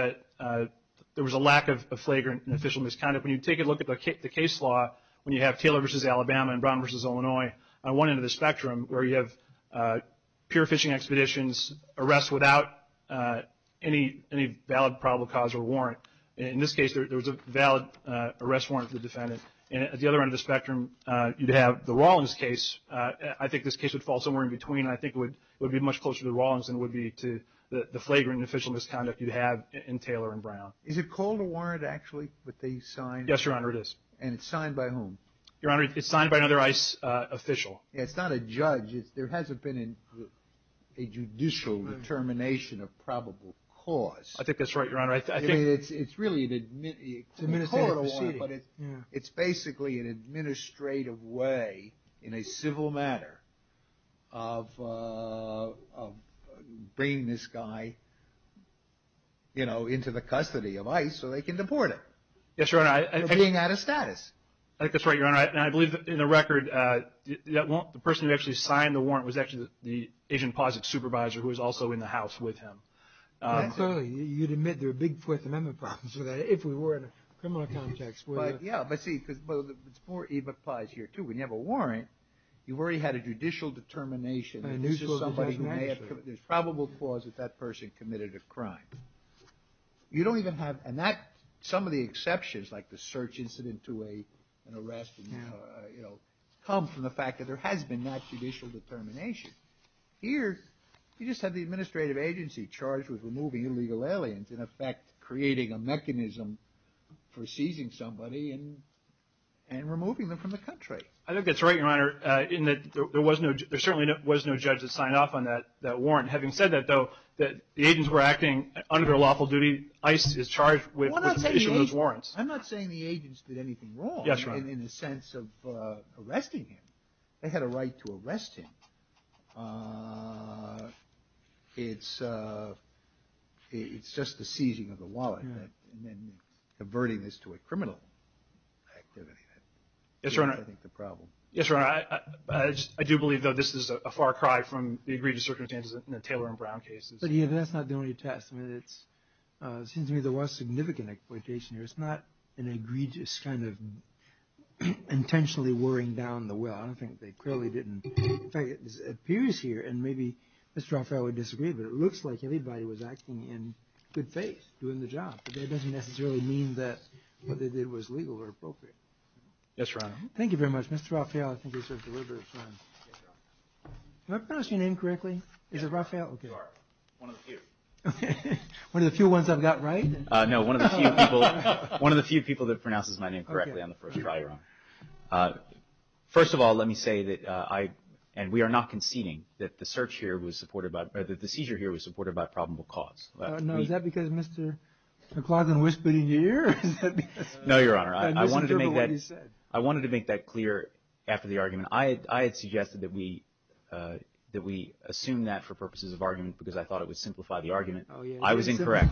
there was a lack of flagrant and official misconduct. When you take a look at the case law, when you have Taylor v. Alabama and Brown v. Illinois on one end of the spectrum, where you have pure fishing expeditions, arrests without any valid probable cause or warrant. In this case, there was a valid arrest warrant for the defendant. And at the other end of the spectrum, you'd have the Rawlings case. I think this case would fall somewhere in between. I think it would be much closer to the Rawlings than it would be to the flagrant and official misconduct you'd have in Taylor and Brown. Is it called a warrant, actually, that they signed? Yes, Your Honor, it is. And it's signed by whom? Your Honor, it's signed by another ICE official. It's not a judge. There hasn't been a judicial determination of probable cause. I think that's right, Your Honor. It's really an administrative proceeding. But it's basically an administrative way in a civil matter of bringing this guy, you know, into the custody of ICE so they can deport him. Yes, Your Honor. For being out of status. I think that's right, Your Honor. And I believe, in the record, the person who actually signed the warrant was actually the agent posit supervisor who was also in the house with him. Clearly, you'd admit there are big Fourth Amendment problems with that, if we were in a criminal context. Yeah, but see, it applies here, too. When you have a warrant, you've already had a judicial determination. There's probable cause that that person committed a crime. You don't even have an act. Some of the exceptions, like the search incident to an arrest, you know, come from the fact that there has been that judicial determination. Here, you just have the administrative agency charged with removing illegal aliens, in effect creating a mechanism for seizing somebody and removing them from the country. I think that's right, Your Honor, in that there certainly was no judge that signed off on that warrant. Having said that, though, the agents were acting under their lawful duty. ICE is charged with issuing those warrants. I'm not saying the agents did anything wrong in the sense of arresting him. They had a right to arrest him. It's just the seizing of the wallet and converting this to a criminal activity. Yes, Your Honor. I think that's the problem. Yes, Your Honor. I do believe, though, this is a far cry from the egregious circumstances in the Taylor and Brown cases. But, you know, that's not the only test. I mean, it seems to me there was significant exploitation here. It's not an egregious kind of intentionally wearing down the will. I don't think they clearly didn't. In fact, it appears here, and maybe Mr. Raphael would disagree, but it looks like everybody was acting in good faith doing the job. But that doesn't necessarily mean that what they did was legal or appropriate. Yes, Your Honor. Thank you very much. Mr. Raphael, I think we should deliver. Did I pronounce your name correctly? Is it Raphael? You are. One of the few. One of the few ones I've got right? No, one of the few people that pronounces my name correctly on the first try, Your Honor. First of all, let me say, and we are not conceding, that the seizure here was supported by probable cause. No, is that because Mr. McLaughlin whispered in your ear? No, Your Honor. I wanted to make that clear after the argument. I had suggested that we assume that for purposes of argument because I thought it would simplify the argument. I was incorrect.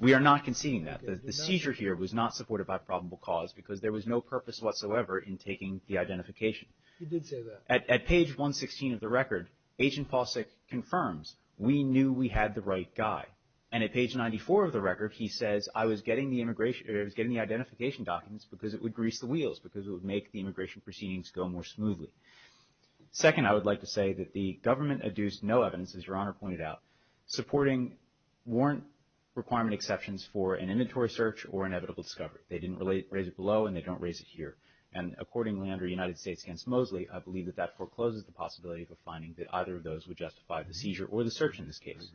We are not conceding that. The seizure here was not supported by probable cause because there was no purpose whatsoever in taking the identification. You did say that. At page 116 of the record, Agent Pawczyk confirms, we knew we had the right guy. And at page 94 of the record, he says, I was getting the identification documents because it would grease the wheels, because it would make the immigration proceedings go more smoothly. Second, I would like to say that the government adduced no evidence, as Your Honor pointed out, supporting warrant requirement exceptions for an inventory search or inevitable discovery. They didn't raise it below and they don't raise it here. And accordingly, under United States against Mosley, I believe that that forecloses the possibility of a finding that either of those would justify the seizure or the search in this case.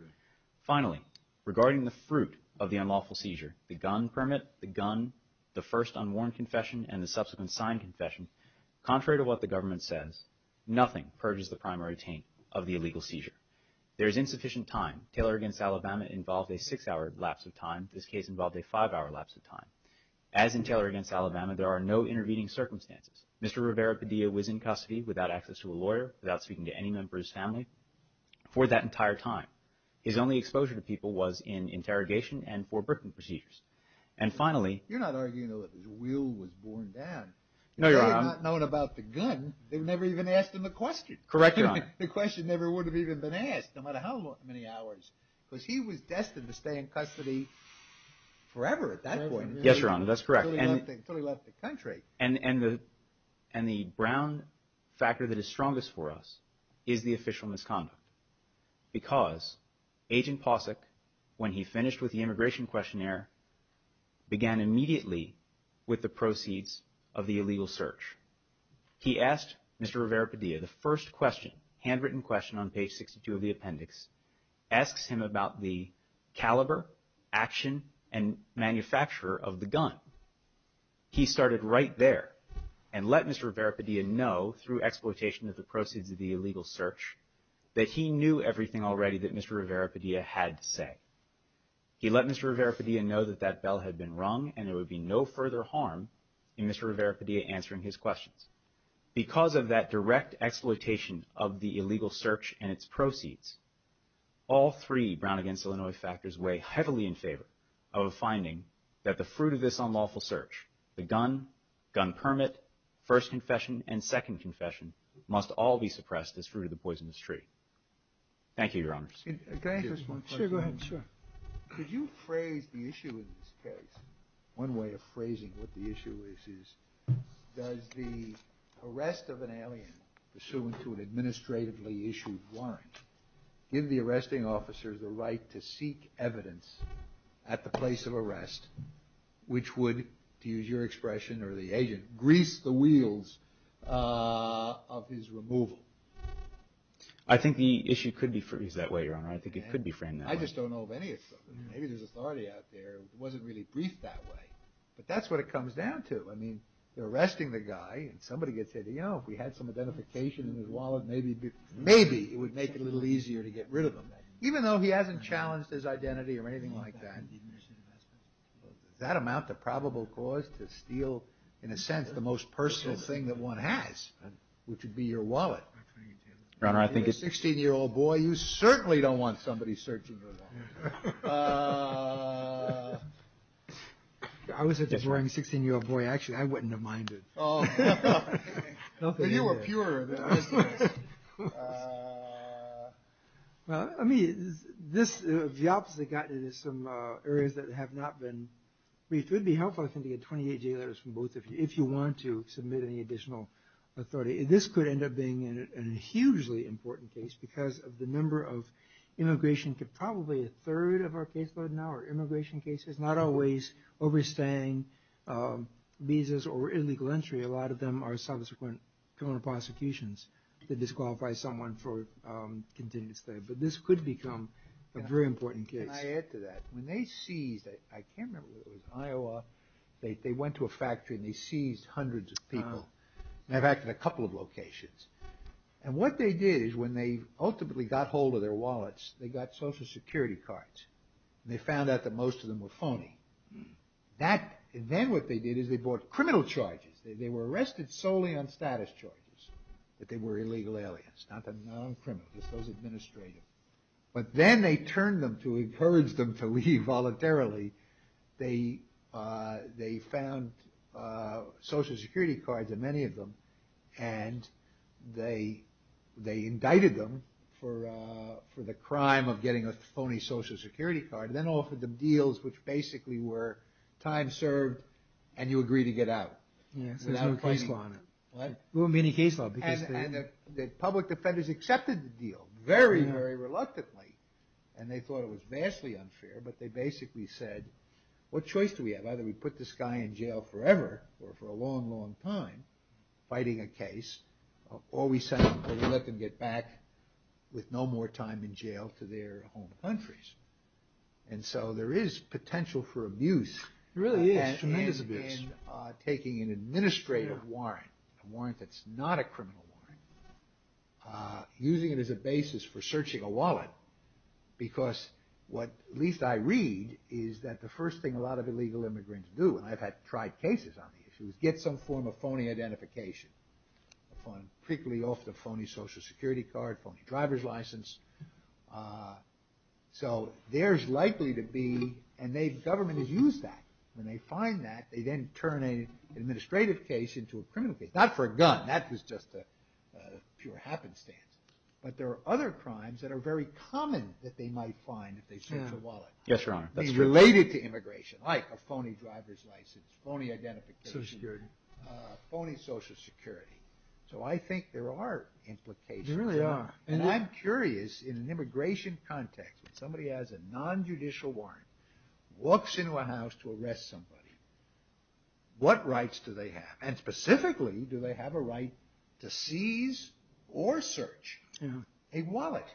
Finally, regarding the fruit of the unlawful seizure, the gun permit, the gun, the first unworn confession, and the subsequent signed confession, contrary to what the government says, nothing purges the primary taint of the illegal seizure. There is insufficient time. Taylor against Alabama involved a six-hour lapse of time. This case involved a five-hour lapse of time. As in Taylor against Alabama, there are no intervening circumstances. Mr. Rivera-Padilla was in custody without access to a lawyer, without speaking to any member of his family for that entire time. His only exposure to people was in interrogation and foreboding procedures. And finally— You're not arguing that his will was borne down. No, Your Honor. They had not known about the gun. They never even asked him the question. Correct, Your Honor. The question never would have even been asked, no matter how many hours, because he was destined to stay in custody forever at that point. Yes, Your Honor, that's correct. Until he left the country. And the brown factor that is strongest for us is the official misconduct because Agent Posick, when he finished with the immigration questionnaire, began immediately with the proceeds of the illegal search. He asked Mr. Rivera-Padilla the first question, handwritten question on page 62 of the appendix, asks him about the caliber, action, and manufacturer of the gun. He started right there and let Mr. Rivera-Padilla know, through exploitation of the proceeds of the illegal search, that he knew everything already that Mr. Rivera-Padilla had to say. He let Mr. Rivera-Padilla know that that bell had been rung and there would be no further harm in Mr. Rivera-Padilla answering his questions. Because of that direct exploitation of the illegal search and its proceeds, all three Brown v. Illinois factors weigh heavily in favor of a finding that the fruit of this unlawful search, the gun, gun permit, first confession, and second confession, must all be suppressed as fruit of the poisonous tree. Thank you, Your Honors. Can I ask this one question? Sure, go ahead, sure. Could you phrase the issue in this case, one way of phrasing what the issue is, is does the arrest of an alien pursuant to an administratively issued warrant give the arresting officers the right to seek evidence at the place of arrest, which would, to use your expression or the agent, grease the wheels of his removal? I think the issue could be phrased that way, Your Honor. I think it could be framed that way. I just don't know of any of them. Maybe there's authority out there. It wasn't really briefed that way. But that's what it comes down to. I mean, they're arresting the guy and somebody gets hit. You know, if we had some identification in his wallet, maybe it would make it a little easier to get rid of him. Even though he hasn't challenged his identity or anything like that. Does that amount to probable cause to steal, in a sense, the most personal thing that one has, which would be your wallet? Your Honor, I think it's… You're a 16-year-old boy. You certainly don't want somebody searching your wallet. I was a boring 16-year-old boy. Actually, I wouldn't have minded. You were pure. I mean, this is some areas that have not been briefed. It would be helpful, I think, to get 28 J letters from both of you if you want to submit any additional authority. This could end up being a hugely important case because of the number of immigration cases. Probably a third of our caseload now are immigration cases, not always overstaying visas or illegal entry. A lot of them are subsequent criminal prosecutions that disqualify someone for continuing to stay. But this could become a very important case. Can I add to that? When they seized, I can't remember if it was Iowa, they went to a factory and they seized hundreds of people. In fact, in a couple of locations. And what they did is when they ultimately got hold of their wallets, they got social security cards. They found out that most of them were phony. Then what they did is they bought criminal charges. They were arrested solely on status charges, that they were illegal aliens, not the non-criminals, just those administrative. But then they turned them to encourage them to leave voluntarily. They found social security cards in many of them and they indicted them for the crime of getting a phony social security card and then offered them deals which basically were time served and you agree to get out. There's no case law on it. There wouldn't be any case law. And the public defenders accepted the deal very, very reluctantly. And they thought it was vastly unfair, but they basically said, what choice do we have? Either we put this guy in jail forever or for a long, long time fighting a case or we let them get back with no more time in jail to their home countries. And so there is potential for abuse. There really is. Tremendous abuse. And taking an administrative warrant, a warrant that's not a criminal warrant, using it as a basis for searching a wallet because what at least I read is that the first thing a lot of illegal immigrants do, and I've had tried cases on the issue, is get some form of phony identification, frequently off the phony social security card, phony driver's license. So there's likely to be, and the government has used that. When they find that, they then turn an administrative case into a criminal case. Not for a gun. That was just a pure happenstance. But there are other crimes that are very common that they might find if they search a wallet. Yes, Your Honor. Related to immigration, like a phony driver's license, phony identification. Social security. Phony social security. So I think there are implications. There really are. And I'm curious, in an immigration context, if somebody has a nonjudicial warrant, walks into a house to arrest somebody, what rights do they have? And specifically, do they have a right to seize or search a wallet?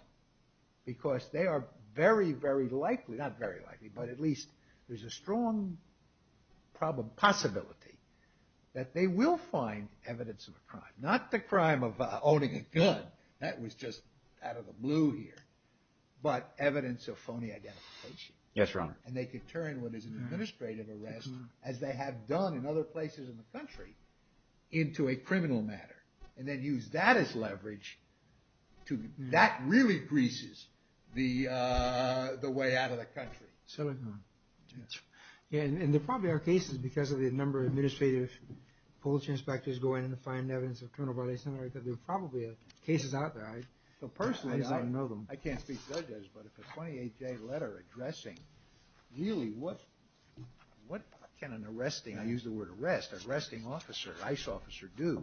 Because they are very, very likely, not very likely, but at least there's a strong possibility that they will find evidence of a crime. Not the crime of owning a gun. That was just out of the blue here. But evidence of phony identification. Yes, Your Honor. And they could turn what is an administrative arrest, as they have done in other places in the country, into a criminal matter. And then use that as leverage. That really greases the way out of the country. Certainly. And there probably are cases, because of the number of administrative police inspectors going in to find evidence of criminal violations, there are probably cases out there. Personally, I don't know them. I can't speak to those guys, but if it's a 28-day letter addressing, really, what can an arresting, I use the word arrest, arresting officer, ICE officer, do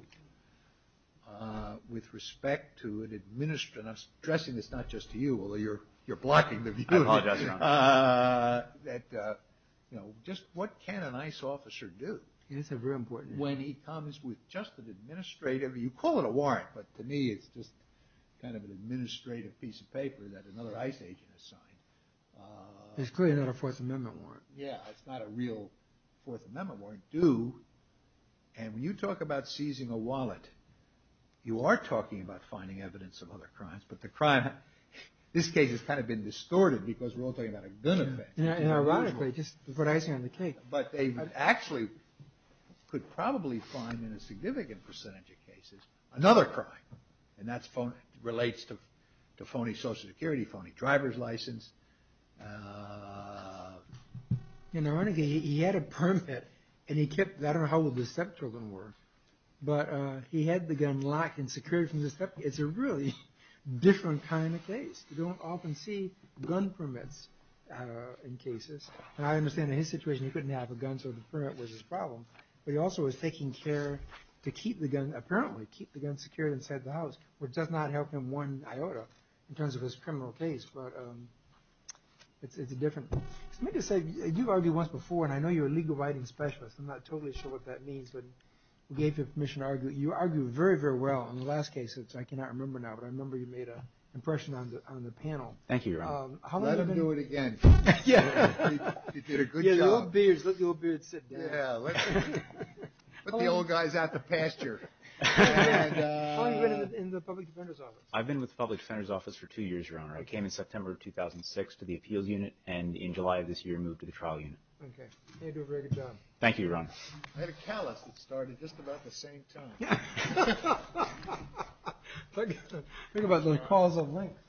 with respect to an administrative, and I'm stressing this not just to you, although you're blocking the view. I apologize, Your Honor. Just what can an ICE officer do when he comes with just an administrative, you call it a warrant, but to me it's just kind of an administrative piece of paper that another ICE agent has signed. There's clearly not a Fourth Amendment warrant. Yeah, it's not a real Fourth Amendment warrant. Do, and when you talk about seizing a wallet, you are talking about finding evidence of other crimes, but the crime, this case has kind of been distorted because we're all talking about a gun effect. And ironically, just before the icing on the cake. But they actually could probably find in a significant percentage of cases, another crime. And that relates to phony Social Security, phony driver's license. And ironically, he had a permit, and he kept, I don't know how old the stepchildren were, but he had the gun locked and secured from the stepkids. It's a really different kind of case. You don't often see gun permits in cases. And I understand in his situation, he couldn't have a gun, so the permit was his problem. But he also was taking care to keep the gun, apparently keep the gun secured inside the house, which does not help him one iota, in terms of his criminal case, but it's a different. Let me just say, you've argued once before, and I know you're a legal writing specialist. I'm not totally sure what that means, but we gave you permission to argue. You argued very, very well on the last case, which I cannot remember now, but I remember you made an impression on the panel. Thank you, Your Honor. Let him do it again. He did a good job. Yeah, the old beard. Let the old beard sit down. Yeah, let the old guys out the pasture. How long have you been in the Public Defender's Office? I've been with the Public Defender's Office for two years, Your Honor. I came in September of 2006 to the Appeals Unit, and in July of this year, moved to the Trial Unit. Okay. You do a very good job. Thank you, Your Honor. I had a callus that started just about the same time. Think about the calls of length. Court is adjourned until 2 p.m. February 30, 1938.